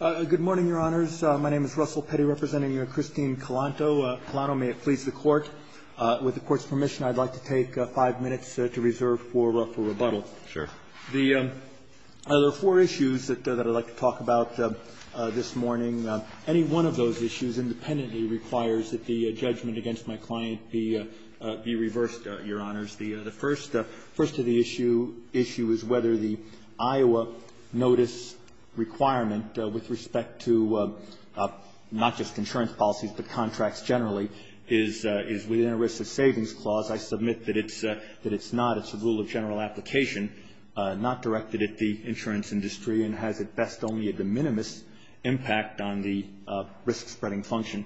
Good morning, Your Honors. My name is Russell Petty representing you and Christine Calanto. Calanto, may it please the Court, with the Court's permission, I'd like to take five minutes to reserve for rebuttal. Sure. The four issues that I'd like to talk about this morning, any one of those issues independently requires that the judgment against my client be reversed, Your Honors. The first of the issue is whether the Iowa notice requirement with respect to not just insurance policies but contracts generally is within a risk of savings clause. I submit that it's not. It's a rule of general application, not directed at the insurance industry and has at best only a de minimis impact on the risk spreading function.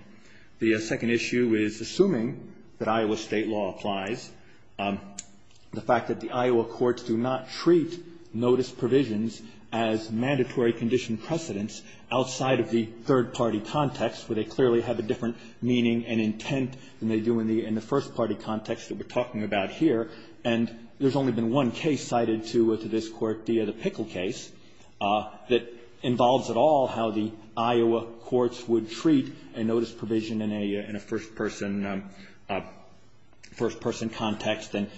The second issue is assuming that Iowa state law applies, the fact that the Iowa courts do not treat notice provisions as mandatory condition precedents outside of the third-party context where they clearly have a different meaning and intent than they do in the first-party context that we're talking about here. And there's only been one case cited to this Court, the Pickle case, that involves at all how the Iowa courts would treat a notice provision in a first-person context. And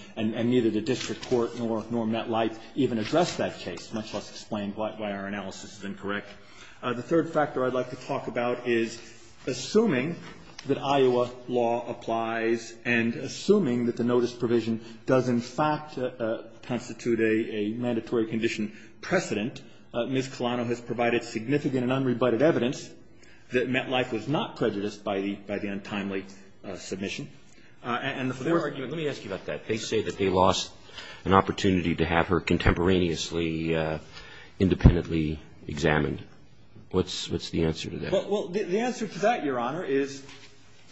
neither the district court nor MetLife even addressed that case, much less explained why our analysis is incorrect. The third factor I'd like to talk about is assuming that Iowa law applies and assuming that the notice provision does in fact constitute a mandatory condition precedent, Ms. Colano has provided significant and unrebutted evidence that MetLife was not prejudiced by the untimely submission. And the fourth ---- What's the answer to that? Well, the answer to that, Your Honor, is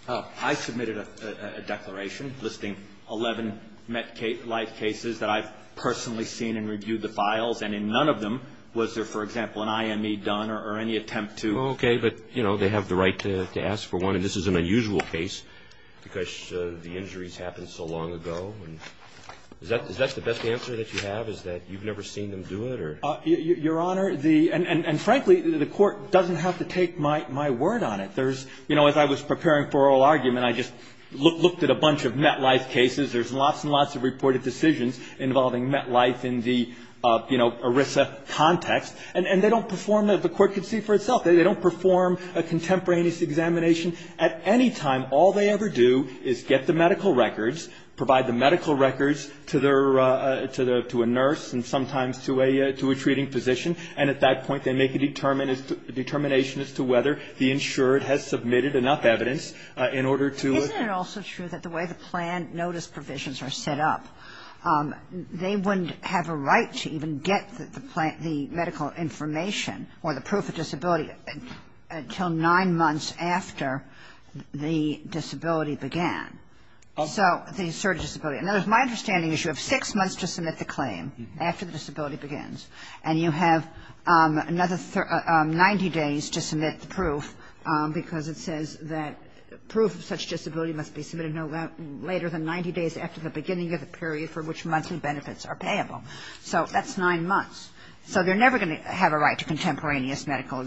I submitted a declaration listing 11 MetLife cases that I've personally seen and reviewed the files. And in none of them was there, for example, an IME done or any attempt to ---- Well, okay. But, you know, they have the right to ask for one. And this is an unusual case because the injuries happened so long ago. And is that the best answer that you have, is that you've never seen them do it or ---- Your Honor, the ---- and frankly, the Court doesn't have to take my word on it. There's ---- you know, as I was preparing for oral argument, I just looked at a bunch of MetLife cases. There's lots and lots of reported decisions involving MetLife in the, you know, ERISA context. And they don't perform, as the Court could see for itself, they don't perform a contemporaneous examination. At any time, all they ever do is get the medical records, provide the medical records to their ---- to a nurse and sometimes to a ---- to a treating physician, and at that point, they make a determination as to whether the insured has submitted enough evidence in order to ---- Isn't it also true that the way the plan notice provisions are set up, they wouldn't have a right to even get the medical information or the proof of disability until nine months after the disability began, so the asserted disability. In other words, my understanding is you have six months to submit the claim after the disability begins. And you have another 90 days to submit the proof because it says that proof of such disability must be submitted no later than 90 days after the beginning of the period for which monthly benefits are payable. So that's nine months. So they're never going to have a right to contemporaneous medical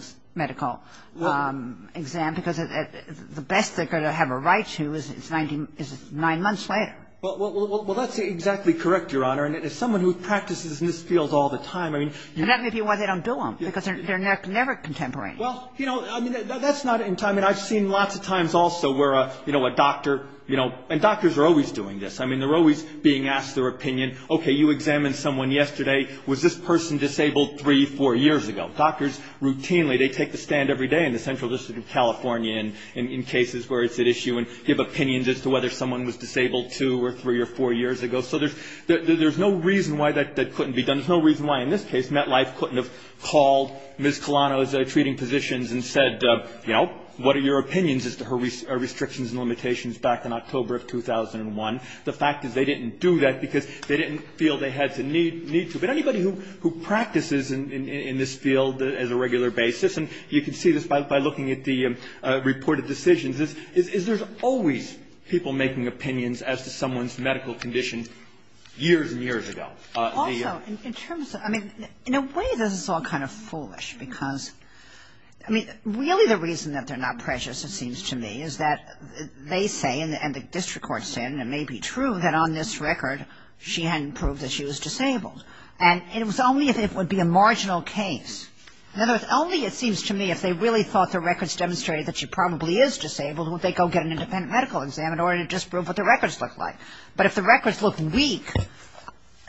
exam because the best they're going to have a right to is nine months later. Well, that's exactly correct, Your Honor. And as someone who practices in this field all the time, I mean ---- I'm not going to be why they don't do them because they're never contemporaneous. Well, you know, that's not in time. And I've seen lots of times also where, you know, a doctor, you know, and doctors are always doing this. I mean, they're always being asked their opinion. Okay, you examined someone yesterday. Was this person disabled three, four years ago? Doctors routinely, they take the stand every day in the Central District of California and in cases where it's at issue and give opinions as to whether someone was disabled two or three or four years ago. So there's no reason why that couldn't be done. There's no reason why in this case MetLife couldn't have called Ms. Colano's treating positions and said, you know, what are your opinions as to her restrictions and limitations back in October of 2001? The fact is they didn't do that because they didn't feel they had to need to. But anybody who practices in this field as a regular basis, and you can see this by looking at the reported decisions, is there's always people making opinions as to someone's medical condition years and years ago. Also, in terms of, I mean, in a way this is all kind of foolish because, I mean, really the reason that they're not precious, it seems to me, is that they say, and the district court said, and it may be true, that on this record she hadn't proved that she was disabled. And it was only if it would be a marginal case. In other words, only, it seems to me, if they really thought the records demonstrated that she probably is disabled, would they go get an independent medical exam in order to disprove what the records look like. But if the records look weak,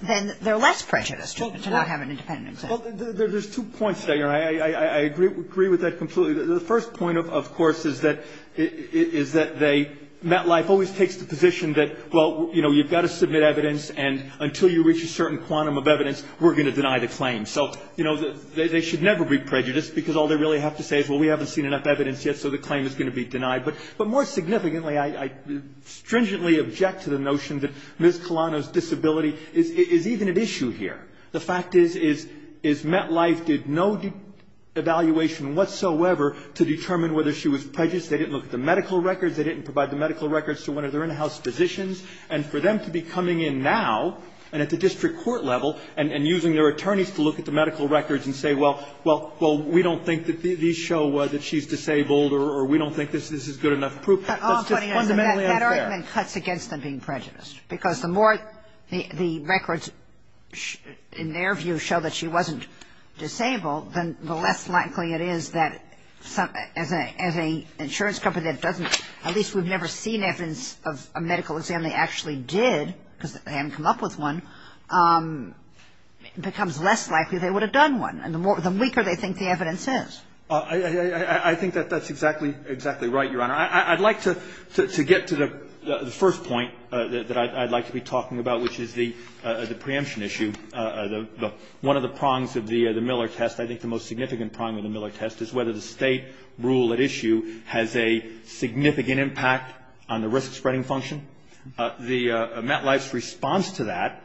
then they're less precious to not have an independent exam. Well, there's two points there. I agree with that completely. The first point, of course, is that they, MetLife always takes the position that, well, you know, you've got to submit evidence. And until you reach a certain quantum of evidence, we're going to deny the claim. So, you know, they should never be prejudiced because all they really have to say is, well, we haven't seen enough evidence yet, so the claim is going to be denied. But more significantly, I stringently object to the notion that Ms. Colano's disability is even an issue here. The fact is, is MetLife did no evaluation whatsoever to determine whether she was prejudiced. They didn't look at the medical records. They didn't provide the medical records to one of their in-house physicians. And for them to be coming in now and at the district court level and using their attorneys to look at the medical records and say, well, well, we don't think that these show that she's disabled or we don't think this is good enough proof, that's just fundamentally unfair. That argument cuts against them being prejudiced. Because the more the records, in their view, show that she wasn't disabled, then the less likely it is that as an insurance company that doesn't, at least we've never seen evidence of a medical exam, they actually did, because they haven't come up with one, it becomes less likely they would have done one. And the weaker they think the evidence is. I think that that's exactly right, Your Honor. I'd like to get to the first point that I'd like to be talking about, which is the preemption issue. One of the prongs of the Miller test, I think the most significant prong of the Miller test, is whether the State rule at issue has a significant impact on the risk spreading function. The MetLife's response to that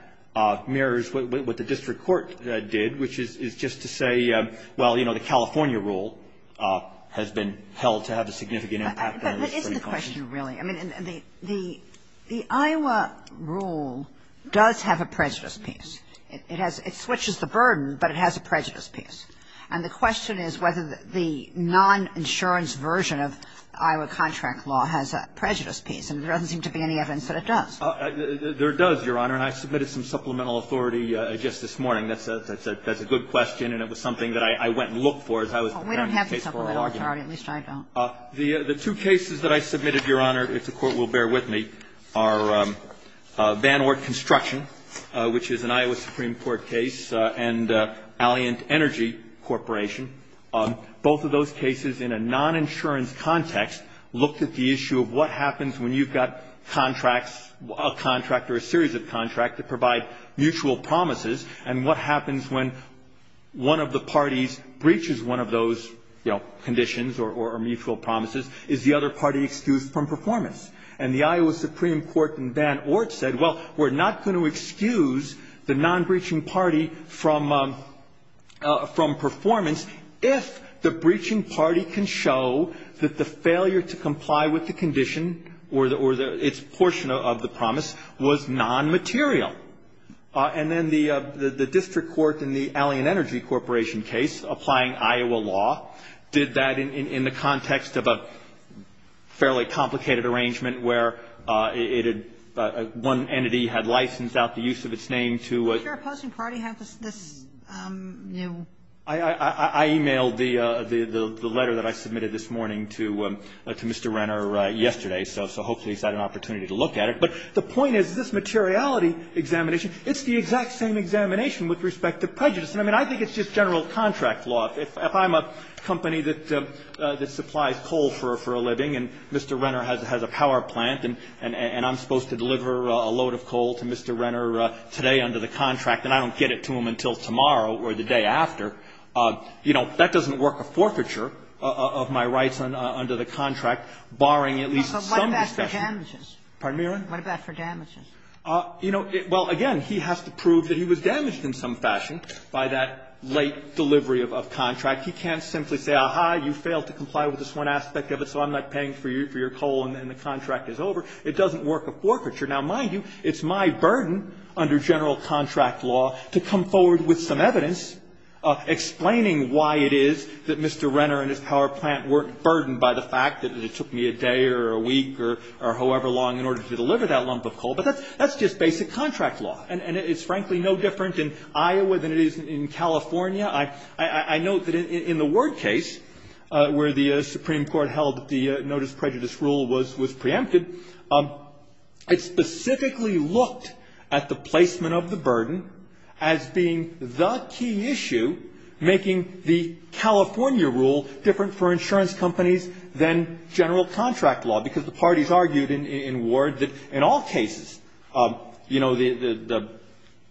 mirrors what the district court did, which is just to say, well, you know, the California rule has been held to have a significant impact on the risk spreading function. But isn't the question really? I mean, the Iowa rule does have a prejudice piece. It switches the burden, but it has a prejudice piece. And the question is whether the non-insurance version of Iowa contract law has a prejudice piece. And there doesn't seem to be any evidence that it does. There does, Your Honor. And I submitted some supplemental authority just this morning. That's a good question. And it was something that I went and looked for as I was preparing the case for our argument. Well, we don't have the supplemental authority, at least I don't. The two cases that I submitted, Your Honor, if the Court will bear with me, are Van Ort Construction, which is an Iowa Supreme Court case, and Alliant Energy Corporation. Both of those cases, in a non-insurance context, looked at the issue of what happens when you've got contracts, a contract or a series of contracts, that provide mutual promises. And what happens when one of the parties breaches one of those, you know, conditions or mutual promises? Is the other party excused from performance? And the Iowa Supreme Court in Van Ort said, well, we're not going to excuse the non-breaching party from performance. If the breaching party can show that the failure to comply with the condition or its portion of the promise was non-material. And then the district court in the Alliant Energy Corporation case, applying Iowa law, did that in the context of a fairly complicated arrangement, where one entity had licensed out the use of its name to a- Does your opposing party have this, you know? I emailed the letter that I submitted this morning to Mr. Renner yesterday, so hopefully he's had an opportunity to look at it. But the point is, this materiality examination, it's the exact same examination with respect to prejudice. I mean, I think it's just general contract law. If I'm a company that supplies coal for a living, and Mr. Renner has a power plant, and I'm supposed to deliver a load of coal to Mr. Renner today under the contract, and I don't get it to him until tomorrow or the day after, you know, that doesn't work a forfeiture of my rights under the contract, barring at least some discussion. But what about for damages? Pardon me, Your Honor? What about for damages? You know, well, again, he has to prove that he was damaged in some fashion by that late delivery of contract. He can't simply say, aha, you failed to comply with this one aspect of it, so I'm not paying for your coal, and the contract is over. It doesn't work a forfeiture. Now, mind you, it's my burden under general contract law to come forward with some evidence explaining why it is that Mr. Renner and his power plant weren't burdened by the fact that it took me a day or a week or however long in order to deliver that lump of coal. But that's just basic contract law, and it's frankly no different in Iowa than it is in California. I note that in the Ward case, where the Supreme Court held the notice prejudice rule was preempted, it specifically looked at the placement of the burden as being the key issue making the California rule different for insurance companies than general contract law, because the parties argued in Ward that in all cases, you know, the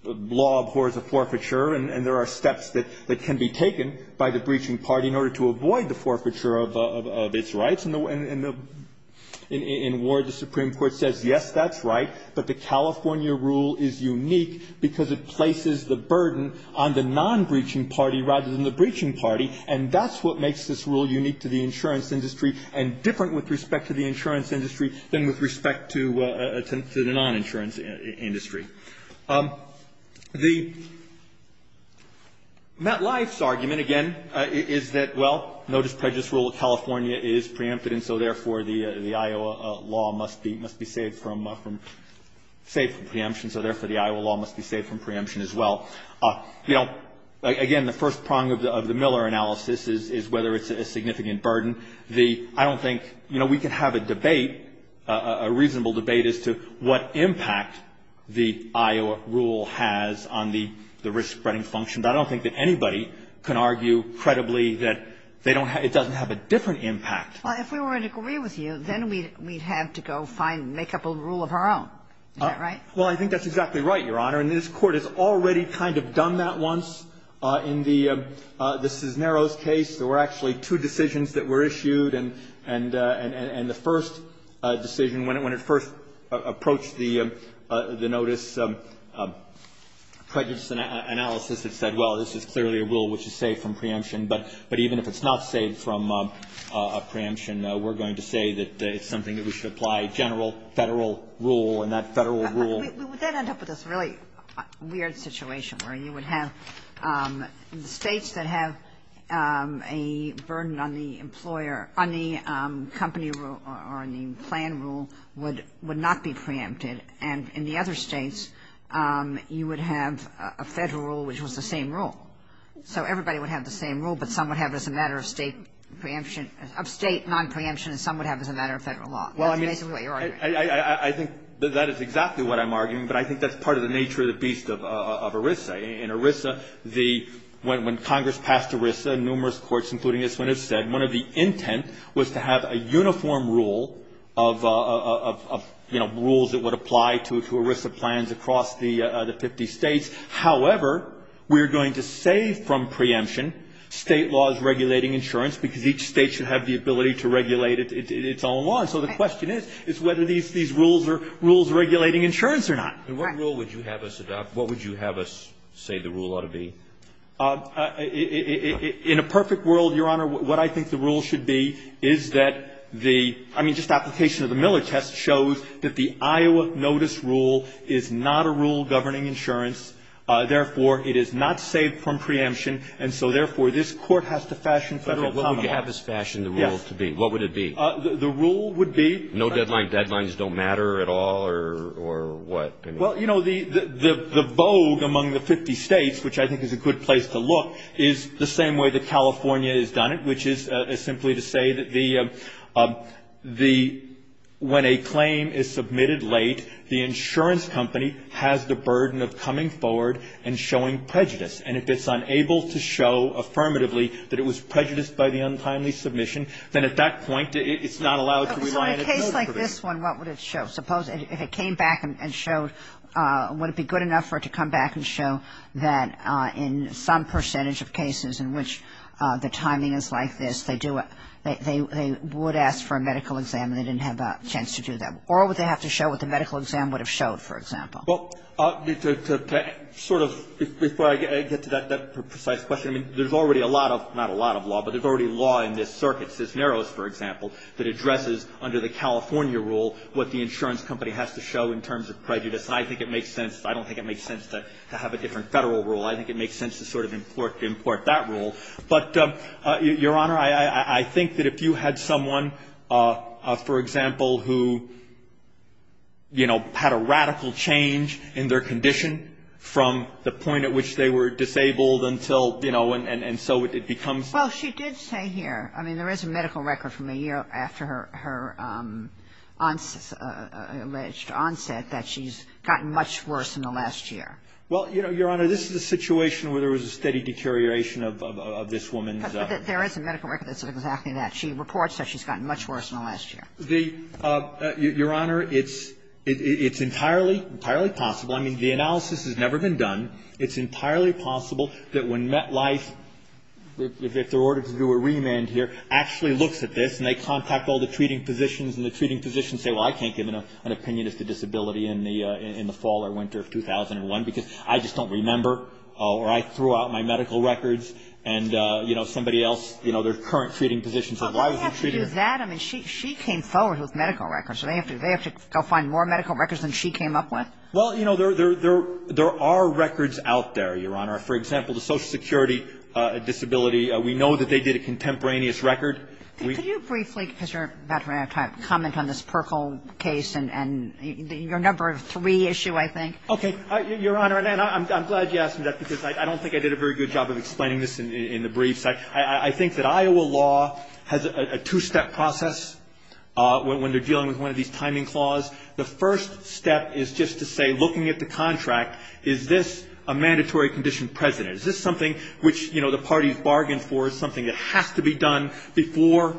law abhors a forfeiture, and there are steps that can be taken by the breaching party in order to avoid the forfeiture of its rights. And in Ward, the Supreme Court says, yes, that's right, but the California rule is unique because it places the burden on the non-breaching party rather than the breaching party, and that's what makes this rule unique to the insurance industry and different with respect to the insurance industry than with respect to the non-insurance industry. The MetLife's argument, again, is that, well, notice prejudice rule of California is preempted, and so, therefore, the Iowa law must be saved from preemption, so, therefore, the Iowa law must be saved from preemption as well. You know, again, the first prong of the Miller analysis is whether it's a significant burden. I don't think, you know, we can have a debate, a reasonable debate as to what impact the Iowa rule has on the risk-spreading function, but I don't think that anybody can argue credibly that it doesn't have a different impact. Well, if we were to agree with you, then we'd have to go make up a rule of our own. Is that right? Well, I think that's exactly right, Your Honor, and this Court has already kind of done that once in the Cisneros case. There were actually two decisions that were issued, and the first decision, when it first approached the notice prejudice analysis, it said, well, this is clearly a rule which is safe from preemption, but even if it's not safe from preemption, we're going to say that it's something that we should apply general Federal rule, and that Federal rule We would then end up with this really weird situation where you would have states that have a burden on the employer, on the company rule or on the plan rule would not be preempted, and in the other states, you would have a Federal rule which was the same rule. So everybody would have the same rule, but some would have it as a matter of state preemption, of state non-preemption, and some would have it as a matter of Federal law. Well, I mean, I think that is exactly what I'm arguing, but I think that's part of the nature of the beast of ERISA. In ERISA, the – when Congress passed ERISA, numerous courts, including this one, have said one of the intent was to have a uniform rule of, you know, rules that would apply to ERISA plans across the 50 states. However, we're going to say from preemption state law is regulating insurance because each state should have the ability to regulate its own law, and so the question is, is whether these rules are rules regulating insurance or not. And what rule would you have us adopt? What would you have us say the rule ought to be? In a perfect world, Your Honor, what I think the rule should be is that the – I mean, just application of the Miller test shows that the Iowa notice rule is not a rule governing insurance. Therefore, it is not saved from preemption, and so therefore, this Court has to fashion Federal common law. What would you have us fashion the rule to be? Yes. What would it be? The rule would be no deadline. So deadlines don't matter at all, or what? Well, you know, the vogue among the 50 states, which I think is a good place to look, is the same way that California has done it, which is simply to say that the – the – when a claim is submitted late, the insurance company has the burden of coming forward and showing prejudice. And if it's unable to show affirmatively that it was prejudiced by the untimely submission, then at that point, it's not allowed to rely on its notepaper. So in a case like this one, what would it show? Suppose if it came back and showed – would it be good enough for it to come back and show that in some percentage of cases in which the timing is like this, they do – they would ask for a medical exam and they didn't have a chance to do that? Or would they have to show what the medical exam would have showed, for example? Well, to sort of – before I get to that precise question, I mean, there's already a lot of – not a lot of law, but there's already law in this circuit, Cisneros, for example, that addresses under the California rule what the insurance company has to show in terms of prejudice. And I think it makes sense – I don't think it makes sense to have a different Federal rule. I think it makes sense to sort of import that rule. But, Your Honor, I think that if you had someone, for example, who, you know, had a radical change in their condition from the point at which they were disabled until, you know, and so it becomes – Well, she did say here – I mean, there is a medical record that says that the medical record from a year after her onset, alleged onset, that she's gotten much worse in the last year. Well, you know, Your Honor, this is a situation where there was a steady deterioration of this woman's – But there is a medical record that says exactly that. She reports that she's gotten much worse in the last year. The – Your Honor, it's entirely, entirely possible. I mean, the analysis has never been done. It's entirely possible that when MetLife, if they're ordered to do a remand here, actually looks at this, and they contact all the treating physicians, and the treating physicians say, well, I can't give an opinion as to disability in the fall or winter of 2001 because I just don't remember, or I threw out my medical records, and, you know, somebody else, you know, their current treating physician says, why was I treated here? Well, they have to do that. I mean, she came forward with medical records. So they have to – they have to go find more medical records than she came up with. Well, you know, there are records out there, Your Honor. For example, the Social Security record, which is a contemporaneous record. Could you briefly, because you're a veteran of time, comment on this Perkle case and your number of three issue, I think? Okay. Your Honor, and I'm glad you asked me that, because I don't think I did a very good job of explaining this in the briefs. I think that Iowa law has a two-step process when they're dealing with one of these timing clause. The first step is just to say, looking at the contract, is this a mandatory condition present? Is this something which, you know, the parties bargained for, is something that has to be done before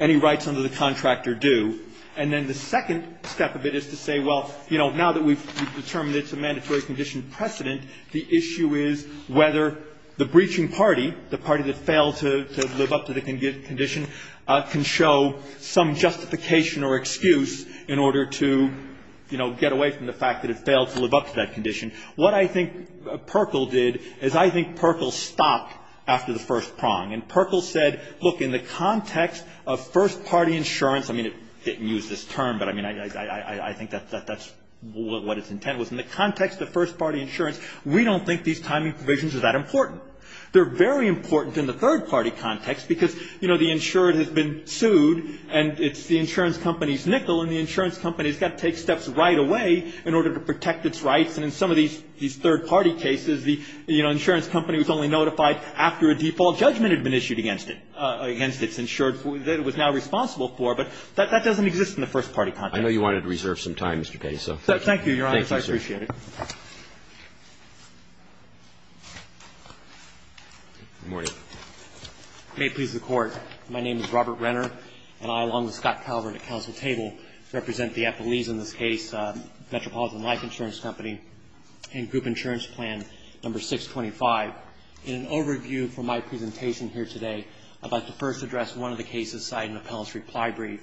any rights under the contract are due? And then the second step of it is to say, well, you know, now that we've determined it's a mandatory condition precedent, the issue is whether the breaching party, the party that failed to live up to the condition, can show some justification or excuse in order to, you know, get away from the fact that it failed to live up to that condition. What I think Perkl stopped after the first prong. And Perkl said, look, in the context of first party insurance, I mean, it didn't use this term, but I mean, I think that's what its intent was. In the context of first party insurance, we don't think these timing provisions are that important. They're very important in the third party context, because, you know, the insured has been sued, and it's the insurance company's nickel, and the insurance company's got to take steps right away in order to protect its rights. And in some of these third party cases, the, you know, insurance company was only notified after a default judgment had been issued against it, against its insured that it was now responsible for. But that doesn't exist in the first party context. Roberts. I know you wanted to reserve some time, Mr. Pate. So thank you. Pate. Thank you, Your Honor. I appreciate it. Roberts. Good morning. Robert Renner. May it please the Court. My name is Robert Renner, and I, along with Scott Calvert at Counsel Table, represent the Eppolese, in this case, Metropolitan Life Insurance Company and Group Insurance Plan No. 625. In an overview for my presentation here today, I'd like to first address one of the cases cited in the Pellissery Plybrief,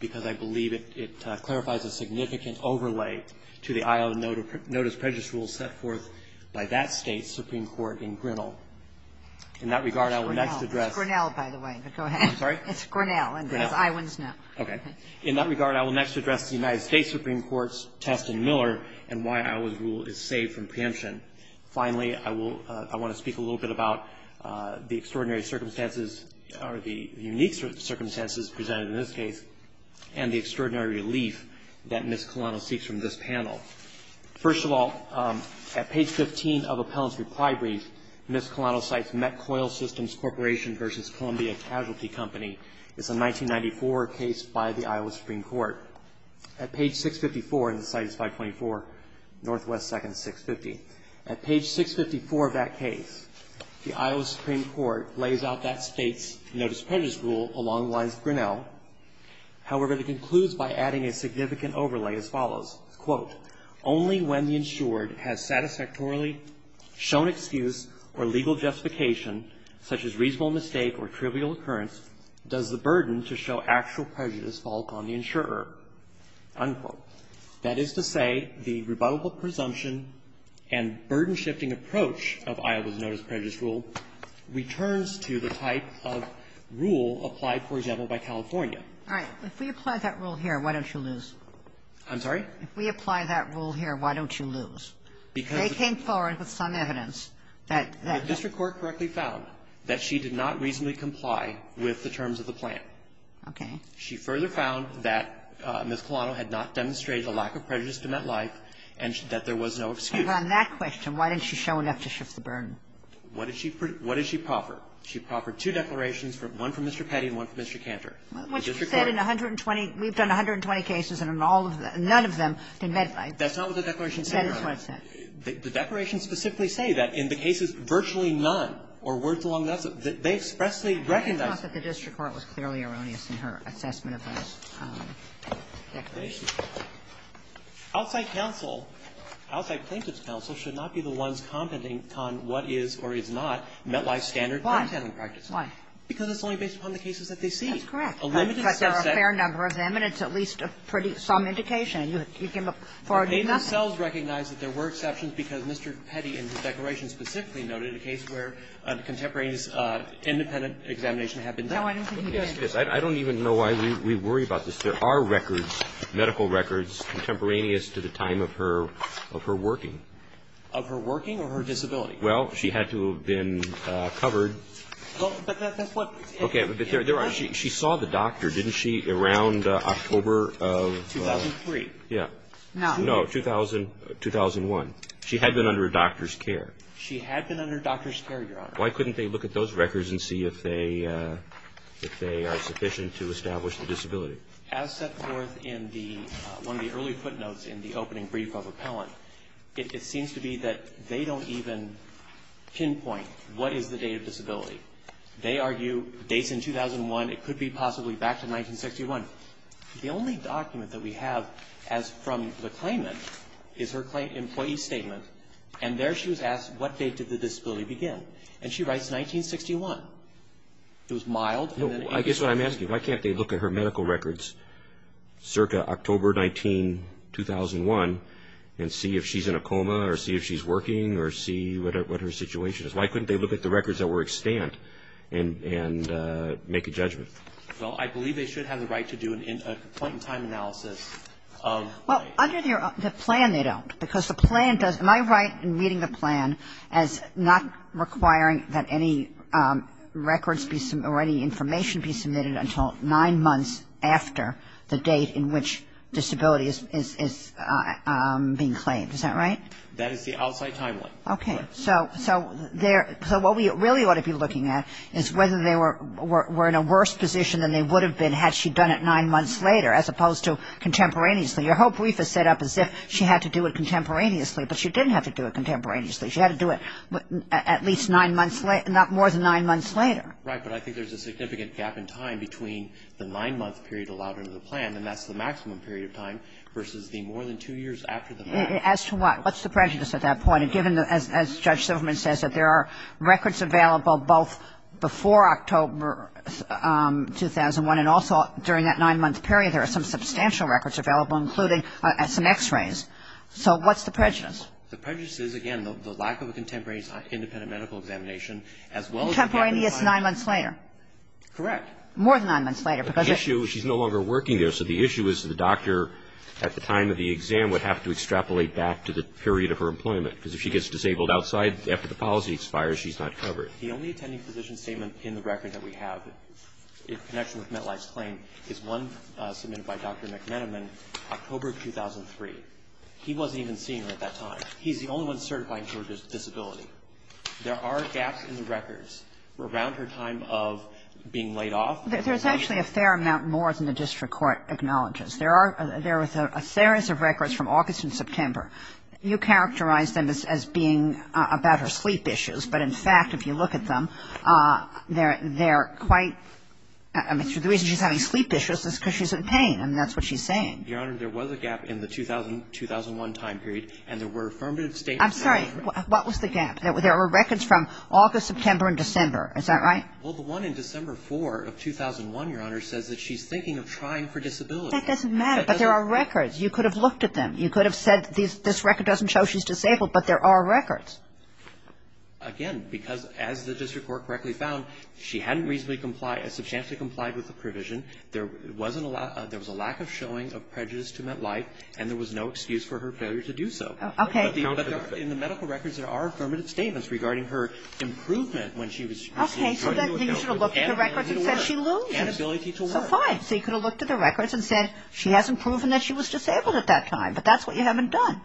because I believe it clarifies a significant overlay to the Iowa notice prejudice rule set forth by that State's Supreme Court in Grinnell. In that regard, I will next address the United States Supreme Court's test in Miller, which is a case in which the United States Supreme Court has ruled that Miss Colano is guilty of misdemeanor assault, and why Iowa's rule is saved from preemption. Finally, I will I want to speak a little bit about the extraordinary circumstances, or the unique circumstances presented in this case, and the extraordinary relief that Miss Colano seeks from this panel. First of all, at page 15 of Appellant's reply brief, Miss Colano cites Metcoil Systems Corporation v. Columbia Casualty Company. It's a 1994 case by the Iowa Supreme Court. At page 654, and the site is 524, Miss Colano cites Metcoil Systems Corporation v. Columbia Casualty Company. It's a 1994 case by the Iowa Supreme Court. Northwest Seconds 650. At page 654 of that case, the Iowa Supreme Court lays out that State's notice prejudice rule along the lines of Grinnell. However, it concludes by adding a significant overlay as follows. Quote, only when the insured has satisfactorily shown excuse or legal justification, such as reasonable mistake or trivial occurrence, does the burden to show actual prejudice fall upon the insurer. Unquote. That is to say, the rebuttable presumption and burden-shifting approach of Iowa's notice prejudice rule returns to the type of rule applied, for example, by California. All right. If we apply that rule here, why don't you lose? I'm sorry? If we apply that rule here, why don't you lose? Because they came forward with some evidence that the district court correctly found that she did not reasonably comply with the terms of the plan. Okay. She further found that Ms. Colano had not demonstrated a lack of prejudice to MetLife, and that there was no excuse. And on that question, why didn't she show enough to shift the burden? What did she profer? She proffered two declarations, one from Mr. Petty and one from Mr. Cantor. Which said in 120 we've done 120 cases and in all of them, none of them, did MetLife. That's not what the declaration said, Your Honor. That is what it said. The declaration specifically say that in the cases virtually none or worth along nothing, they expressly recognize it. It's not that the district court was clearly erroneous in her assessment of those declarations. Outside counsel, outside plaintiff's counsel, should not be the ones commenting on what is or is not MetLife's standard penalty handling practice. Why? Why? Because it's only based upon the cases that they see. That's correct. A limited subset of them. But there are a fair number of them, and it's at least a pretty some indication. You can't afford to do nothing. They themselves recognize that there were exceptions because Mr. Petty in his declaration specifically noted a case where a contemporaneous independent examination had been done. I don't even know why we worry about this. There are records, medical records, contemporaneous to the time of her working. Of her working or her disability? Well, she had to have been covered. But that's what. Okay. She saw the doctor, didn't she, around October of. 2003. Yeah. No. No, 2000, 2001. She had been under a doctor's care. She had been under a doctor's care, Your Honor. Why couldn't they look at those records and see if they are sufficient to establish the disability? As set forth in the one of the early footnotes in the opening brief of Appellant, it seems to be that they don't even pinpoint what is the date of disability. They argue dates in 2001. It could be possibly back to 1961. The only document that we have as from the claimant is her employee statement. And there she was asked what date did the disability begin. And she writes 1961. It was mild. No, I guess what I'm asking, why can't they look at her medical records circa October 19, 2001 and see if she's in a coma or see if she's working or see what her situation is? Why couldn't they look at the records that were extant and make a judgment? Well, I believe they should have the right to do a point in time analysis of. Under the plan, they don't. Because the plan does, am I right in reading the plan as not requiring that any records be or any information be submitted until nine months after the date in which disability is being claimed? Is that right? That is the outside timeline. Okay. So what we really ought to be looking at is whether they were in a worse position than they would have been had she done it nine months later as opposed to contemporaneously. Your whole brief is set up as if she had to do it contemporaneously. But she didn't have to do it contemporaneously. She had to do it at least nine months later, not more than nine months later. Right. But I think there's a significant gap in time between the nine-month period allowed under the plan, and that's the maximum period of time, versus the more than two years after the fact. As to what? What's the prejudice at that point? And given, as Judge Silverman says, that there are records available both before October 2001 and also during that nine-month period, there are some substantial records available, including some x-rays. So what's the prejudice? The prejudice is, again, the lack of a contemporaneous independent medical examination, as well as the fact that the plan was approved in October 2001. Contemporaneous nine months later. More than nine months later, because it's the same. The issue is she's no longer working there, so the issue is the doctor, at the time of the exam, would have to extrapolate back to the period of her employment, because if she gets disabled outside after the policy expires, she's not covered. The only attending physician statement in the record that we have in connection with Metlife's claim is one submitted by Dr. McMenamin, October of 2003. He wasn't even senior at that time. He's the only one certifying Georgia's disability. There are gaps in the records around her time of being laid off. There's actually a fair amount more than the district court acknowledges. There are a series of records from August and September. You characterize them as being about her sleep issues, but in fact, if you look at them, they're quite, I mean, the reason she's having sleep issues is because she's in pain, and that's what she's saying. Your Honor, there was a gap in the 2001 time period, and there were affirmative statements. I'm sorry. What was the gap? There were records from August, September, and December. Is that right? Well, the one in December 4 of 2001, Your Honor, says that she's thinking of trying for disability. That doesn't matter, but there are records. You could have looked at them. You could have said this record doesn't show she's disabled, but there are records. Again, because as the district court correctly found, she hadn't reasonably complied, substantially complied with the provision. There was a lack of showing of prejudice to met life, and there was no excuse for her failure to do so. Okay. But in the medical records, there are affirmative statements regarding her improvement when she was using drug use. Okay. So then you should have looked at the records and said she loses. Okay. So fine. So you could have looked at the records and said she hasn't proven that she was disabled at that time, but that's what you haven't done.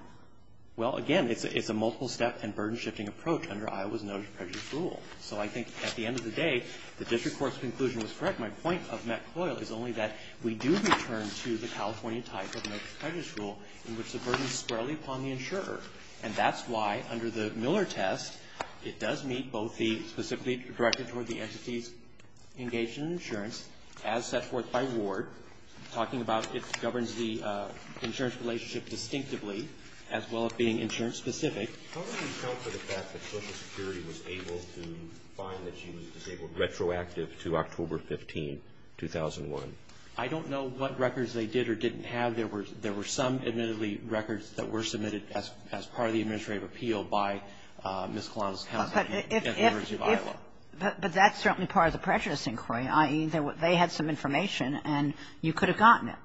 Well, again, it's a multiple-step and burden-shifting approach under Iowa's notice of prejudice rule. So I think at the end of the day, the district court's conclusion was correct. My point of McCoyle is only that we do return to the California type of notice of prejudice rule in which the burden is squarely upon the insurer. And that's why under the Miller test, it does meet both the specifically directed toward the entities engaged in insurance as set forth by Ward, talking about it governs the insurance relationship distinctively, as well as being insurance specific. How do you account for the fact that Social Security was able to find that she was disabled retroactive to October 15, 2001? I don't know what records they did or didn't have. There were some, admittedly, records that were submitted as part of the administrative appeal by Ms. Kalana's counsel at the University of Iowa. But that's certainly part of the prejudice inquiry, i.e., they had some information and you could have gotten it.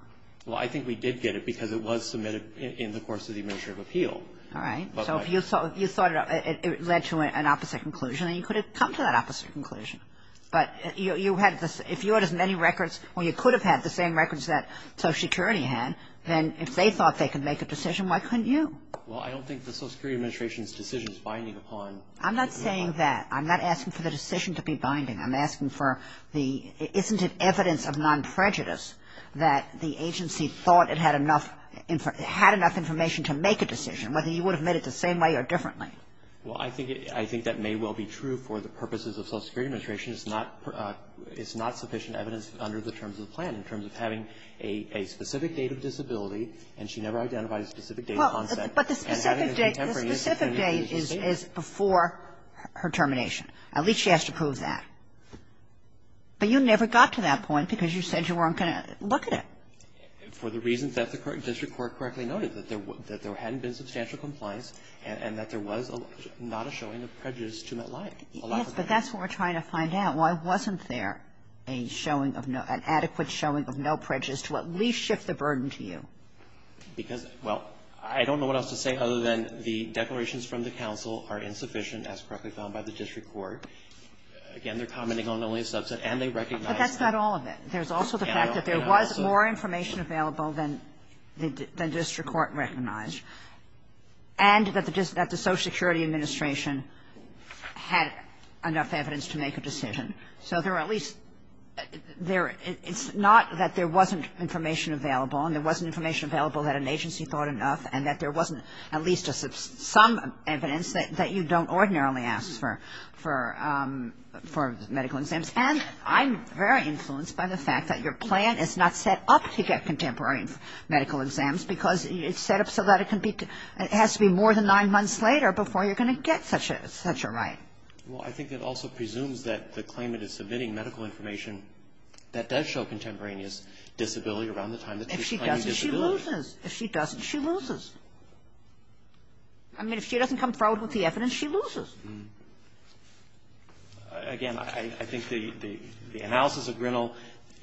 Well, I think we did get it because it was submitted in the course of the administrative appeal. All right. So if you thought it led to an opposite conclusion, then you could have come to that opposite conclusion. But you had the – if you had as many records – well, you could have had the same records that Social Security had, then if they thought they could make a decision, why couldn't you? Well, I don't think the Social Security Administration's decision is binding upon the insurer. I'm not saying that. I'm not asking for the decision to be binding. I'm asking for the – isn't it evidence of non-prejudice that the agency thought it had enough – had enough information to make a decision, whether you would have made it the same way or differently? Well, I think it – I think that may well be true for the purposes of Social Security Administration. It's not – it's not sufficient evidence under the terms of the plan in terms of having a specific date of disability, and she never identified a specific date of onset. Well, but the specific date – the specific date is before her termination. At least she has to prove that. But you never got to that point because you said you weren't going to look at it. For the reasons that the district court correctly noted, that there hadn't been substantial compliance and that there was not a showing of prejudice to MetLife. Yes, but that's what we're trying to find out. Why wasn't there a showing of – an adequate showing of no prejudice to at least shift the burden to you? Because – well, I don't know what else to say other than the declarations from the counsel are insufficient as correctly found by the district court. Again, they're commenting on only a subset, and they recognize that. But that's not all of it. There's also the fact that there was more information available than the district court recognized, and that the Social Security Administration had enough evidence to make a decision. So there are at least – there – it's not that there wasn't information available, and there wasn't information available that an agency thought enough, and that there wasn't at least some evidence that you don't ordinarily ask for medical exams. And I'm very influenced by the fact that your plan is not set up to get contemporary medical exams, because it's set up so that it can be – it has to be more than nine months later before you're going to get such a right. Well, I think it also presumes that the claimant is submitting medical information that does show contemporaneous disability around the time that she's claiming disability. If she doesn't, she loses. If she doesn't, she loses. I mean, if she doesn't come forward with the evidence, she loses. Again, I think the analysis of Grinnell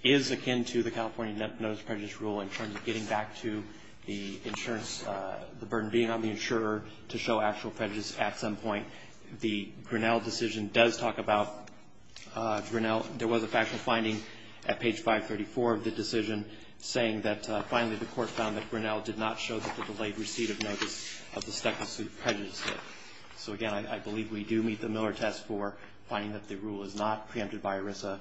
is akin to the California Notice of Prejudice rule in terms of getting back to the insurance – the burden being on the insurer to show actual prejudice at some point. The Grinnell decision does talk about Grinnell. There was a factual finding at page 534 of the decision saying that finally the court found that Grinnell did not show that the delayed receipt of notice of the stuck-in-suit prejudice did. So again, I believe we do meet the Miller test for finding that the rule is not preempted by ERISA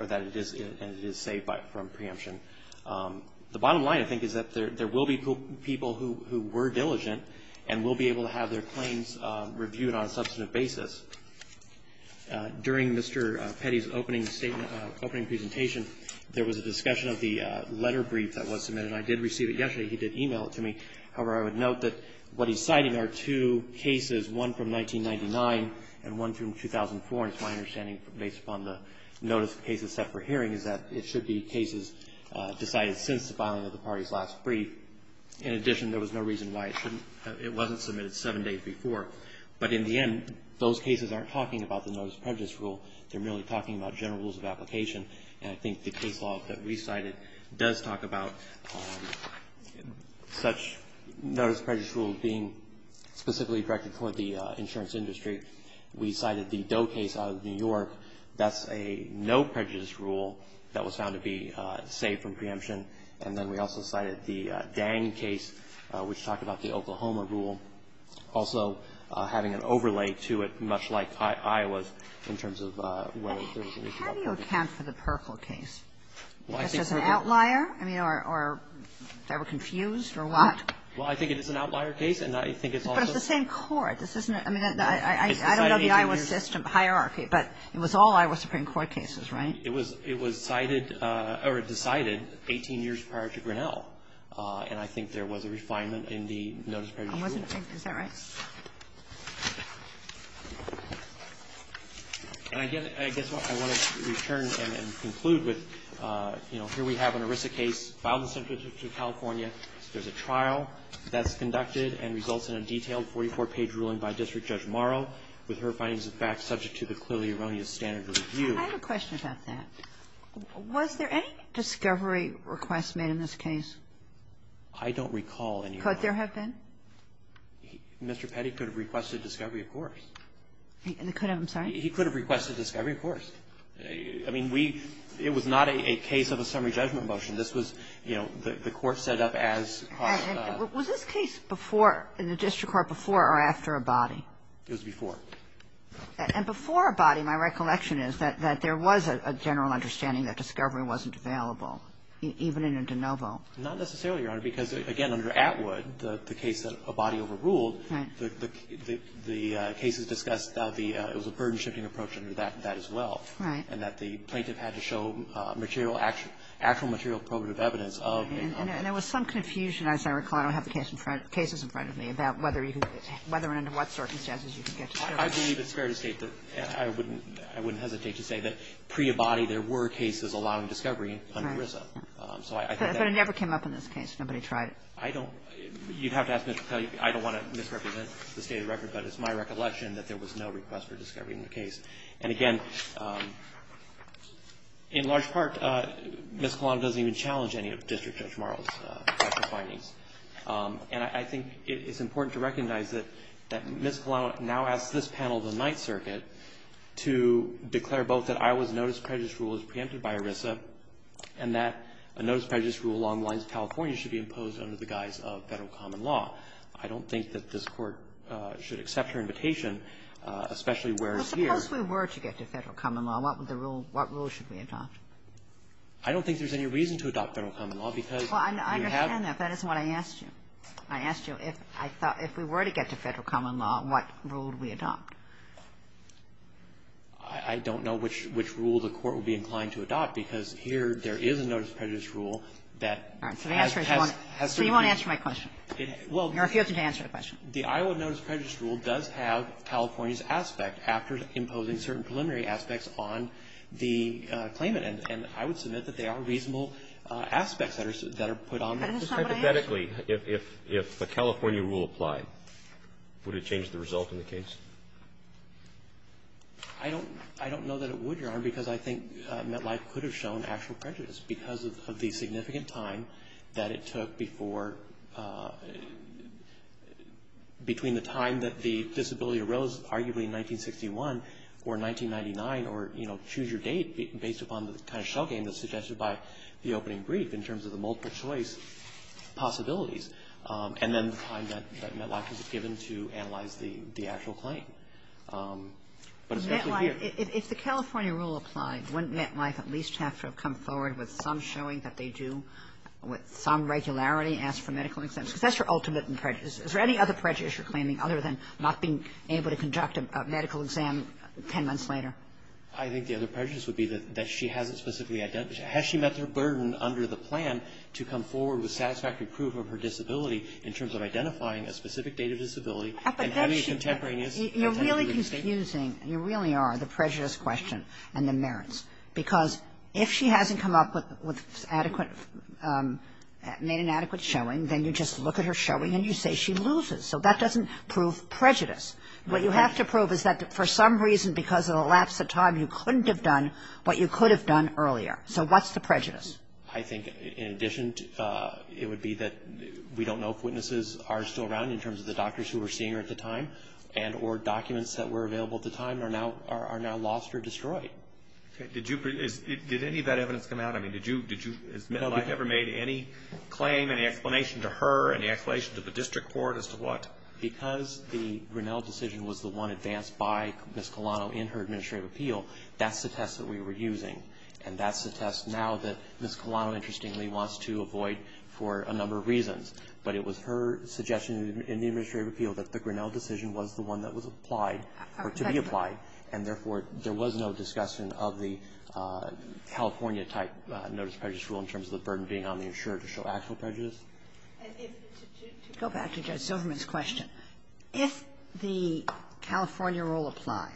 or that it is – and it is saved from preemption. The bottom line, I think, is that there will be people who were diligent and will be able to have their claims reviewed on a substantive basis. During Mr. Petty's opening statement – opening presentation, there was a discussion of the letter brief that was submitted. I did receive it yesterday. He did email it to me. However, I would note that what he's citing are two cases, one from 1999 and one from 2004. And it's my understanding, based upon the notice of cases set for hearing, is that it should be cases decided since the filing of the party's last brief. In addition, there was no reason why it shouldn't – it wasn't submitted seven days before. But in the end, those cases aren't talking about the Notice of Prejudice rule. They're merely talking about general rules of application. And I think the case law that we cited does talk about such Notice of Prejudice rule being specifically directed toward the insurance industry. We cited the Doe case out of New York. That's a no prejudice rule that was found to be saved from preemption. And then we also cited the Dang case, which talked about the Oklahoma rule, also having an overlay to it, much like Iowa's, in terms of whether there was an issue with the law. Kagan. And I think that's the case that we cited. Kagan. But how do you account for the Perkle case? Was it an outlier? I mean, or they were confused or what? Well, I think it is an outlier case, and I think it's also the same court. But it's the same court. This isn't a – I mean, I don't know the Iowa system hierarchy, but it was all Iowa Supreme Court cases, right? It was – it was cited or decided 18 years prior to Grinnell. And I think there was a refinement in the notice of prejudice rule. I wasn't thinking – is that right? And I guess what I want to return and conclude with, you know, here we have an ERISA case filed in Central District of California. There's a trial that's conducted and results in a detailed 44-page ruling by District Judge Morrow, with her findings of fact subject to the clearly erroneous standard of review. I have a question about that. Was there any discovery request made in this case? I don't recall any. Could there have been? Mr. Petty could have requested discovery, of course. He could have? I'm sorry? He could have requested discovery, of course. I mean, we – it was not a case of a summary judgment motion. This was, you know, the court set up as part of a – Was this case before – in the district court before or after Abadi? It was before. And before Abadi, my recollection is that there was a general understanding that discovery wasn't available, even in a de novo. Not necessarily, Your Honor, because, again, under Atwood, the case that Abadi overruled, the cases discussed the – it was a burden-shifting approach under that as well. Right. And that the plaintiff had to show material – actual material probative evidence of – And there was some confusion, as I recall – I don't have the cases in front of me about whether you could – whether and under what circumstances you could get to show it. I believe it's fair to state that – I wouldn't – I wouldn't hesitate to say that pre-Abadi, there were cases allowing discovery under RISA, so I think that – But it never came up in this case. Nobody tried it. I don't – you'd have to ask Mr. Petty. I don't want to misrepresent the state of the record, but it's my recollection that there was no request for discovery in the case. And, again, in large part, Ms. Kalan doesn't even challenge any of District Judge Marle's findings. And I think it's important to recognize that Ms. Kalan now asks this panel of the Ninth Circuit to declare both that Iowa's notice prejudice rule is preempted by RISA and that a notice prejudice rule along the lines of California should be imposed under the guise of Federal common law. I don't think that this Court should accept her invitation, especially where it's here. Well, suppose we were to get to Federal common law. What would the rule – what rule should we adopt? I don't think there's any reason to adopt Federal common law because you have to have a notice prejudice rule. I don't know if that is what I asked you. I asked you if I thought – if we were to get to Federal common law, what rule would we adopt? I don't know which rule the Court would be inclined to adopt because here there is a notice prejudice rule that has – has – has to be – All right. So the answer is you won't – so you won't answer my question. It – well – You're refusing to answer the question. The Iowa notice prejudice rule does have California's aspect after imposing certain preliminary aspects on the claimant, and I would submit that they are reasonable aspects that are – that are put on there. But it's not what I asked you. Hypothetically, if – if a California rule applied, would it change the result in the case? I don't – I don't know that it would, Your Honor, because I think MetLife could have shown actual prejudice because of the significant time that it took before – between the time that the disability arose, arguably in 1961, or 1999, or, you know, choose your date based upon the kind of shell game that's suggested by the opening brief in terms of the multiple choice possibilities, and then the time that – that MetLife was given to analyze the – the actual claim. But especially here – But MetLife – if the California rule applied, wouldn't MetLife at least have to have come forward with some showing that they do, with some regularity, ask for medical exams? Because that's your ultimate prejudice. Is there any other prejudice you're claiming other than not being able to conduct a medical exam ten months later? I think the other prejudice would be that she hasn't specifically – has she met her burden under the plan to come forward with satisfactory proof of her disability in terms of identifying a specific date of disability and having a contemporaneous – But then she – you're really confusing – you really are the prejudice question and the merits, because if she hasn't come up with adequate – made an adequate showing, then you just look at her showing and you say she loses. So that doesn't prove prejudice. What you have to prove is that for some reason, because of the lapse of time, you couldn't have done what you could have done earlier. So what's the prejudice? I think in addition, it would be that we don't know if witnesses are still around in terms of the doctors who were seeing her at the time and or documents that were available at the time are now lost or destroyed. Did you – did any of that evidence come out? I mean, did you – has MetLife ever made any claim, any explanation to her, any explanation to the district court as to what? Because the Grinnell decision was the one advanced by Ms. Colano in her administrative appeal. That's the test that we were using, and that's the test now that Ms. Colano, interestingly, wants to avoid for a number of reasons. But it was her suggestion in the administrative appeal that the Grinnell decision was the one that was applied or to be applied, and therefore, there was no discussion of the California-type notice of prejudice rule in terms of the burden being on the insurer to show actual prejudice. And if – to go back to Judge Silverman's question, if the California rule applied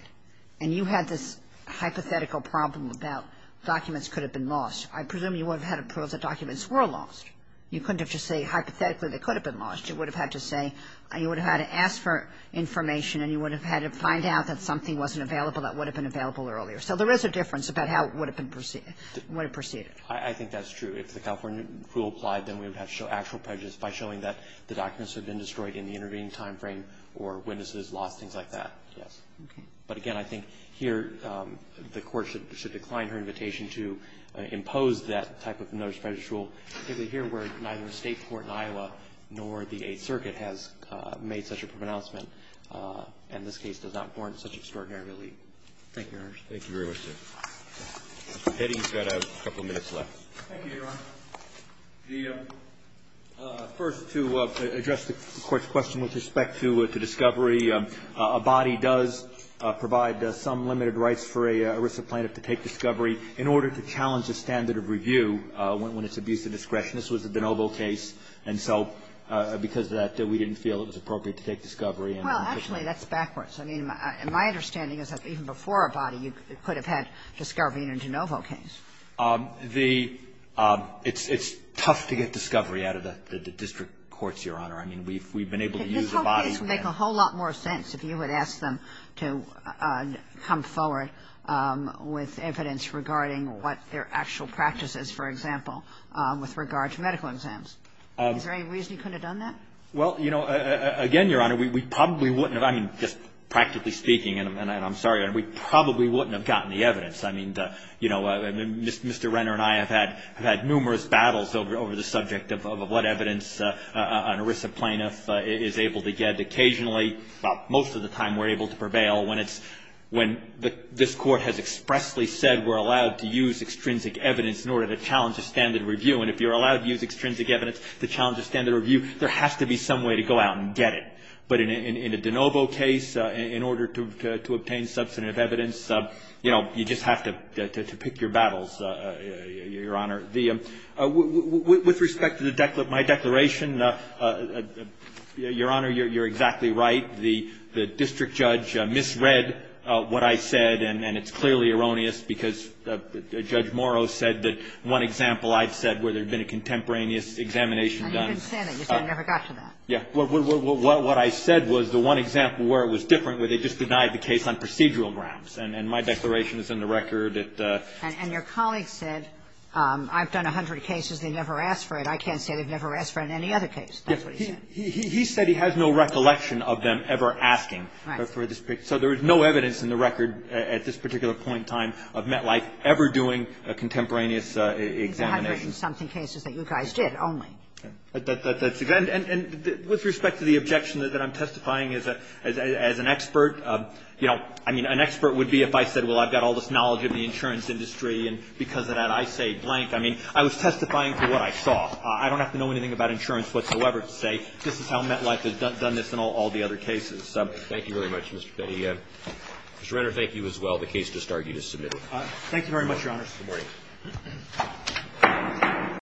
and you had this hypothetical problem about documents could have been lost, I presume you would have had a proof that documents were lost. You couldn't have just said hypothetically they could have been lost. You would have had to say – you would have had to ask for information, and you would have had to find out that something wasn't available that would have been available earlier. So there is a difference about how it would have been – would have proceeded. I think that's true. If the California rule applied, then we would have to show actual prejudice by showing that the documents had been destroyed in the intervening timeframe or witnesses lost, things like that, yes. But again, I think here the Court should decline her invitation to impose that type of notice of prejudice rule, particularly here where neither the State court in Iowa nor the Eighth Circuit has made such a pronouncement, and this case does not warrant such extraordinary relief. Thank you, Your Honor. Thank you very much, sir. Mr. Petty, you've got a couple minutes left. Thank you, Your Honor. The – first, to address the Court's question with respect to discovery, a body does provide some limited rights for a risk of plaintiff to take discovery in order to challenge the standard of review when it's abuse of discretion. This was the DeNovo case, and so because of that, we didn't feel it was appropriate to take discovery. Well, actually, that's backwards. I mean, my understanding is that even before a body, you could have had the Scaravina and DeNovo case. The – it's tough to get discovery out of the district courts, Your Honor. I mean, we've been able to use a body for that. But it would make a whole lot more sense if you had asked them to come forward with evidence regarding what their actual practice is, for example, with regard to medical exams. Is there any reason you couldn't have done that? Well, you know, again, Your Honor, we probably wouldn't have. I mean, just practically speaking, and I'm sorry, Your Honor, we probably wouldn't have gotten the evidence. I mean, you know, Mr. Renner and I have had numerous battles over the subject of what evidence an ERISA plaintiff is able to get. Occasionally, most of the time, we're able to prevail when it's – when this Court has expressly said we're allowed to use extrinsic evidence in order to challenge a standard review. And if you're allowed to use extrinsic evidence to challenge a standard review, there has to be some way to go out and get it. But in a DeNovo case, in order to obtain substantive evidence, you know, you just have to pick your battles, Your Honor. The – with respect to the – my declaration, Your Honor, you're exactly right. The district judge misread what I said, and it's clearly erroneous, because Judge Morrow said that one example I've said where there had been a contemporaneous examination done. And you didn't say that. You said you never got to that. Yeah. What I said was the one example where it was different, where they just denied the case on procedural grounds. And my declaration is in the record. And your colleague said, I've done a hundred cases, they've never asked for it. I can't say they've never asked for it in any other case. That's what he said. He said he has no recollection of them ever asking for this. So there is no evidence in the record at this particular point in time of MetLife ever doing a contemporaneous examination. It's a hundred-and-something cases that you guys did only. And with respect to the objection that I'm testifying as an expert, you know, I mean, an expert would be if I said, well, I've got all this knowledge of the insurance industry, and because of that, I say blank. I mean, I was testifying for what I saw. I don't have to know anything about insurance whatsoever to say this is how MetLife has done this in all the other cases. Thank you very much, Mr. Petty. Mr. Renner, thank you as well. The case just argued is submitted. Thank you very much, Your Honors. Good morning.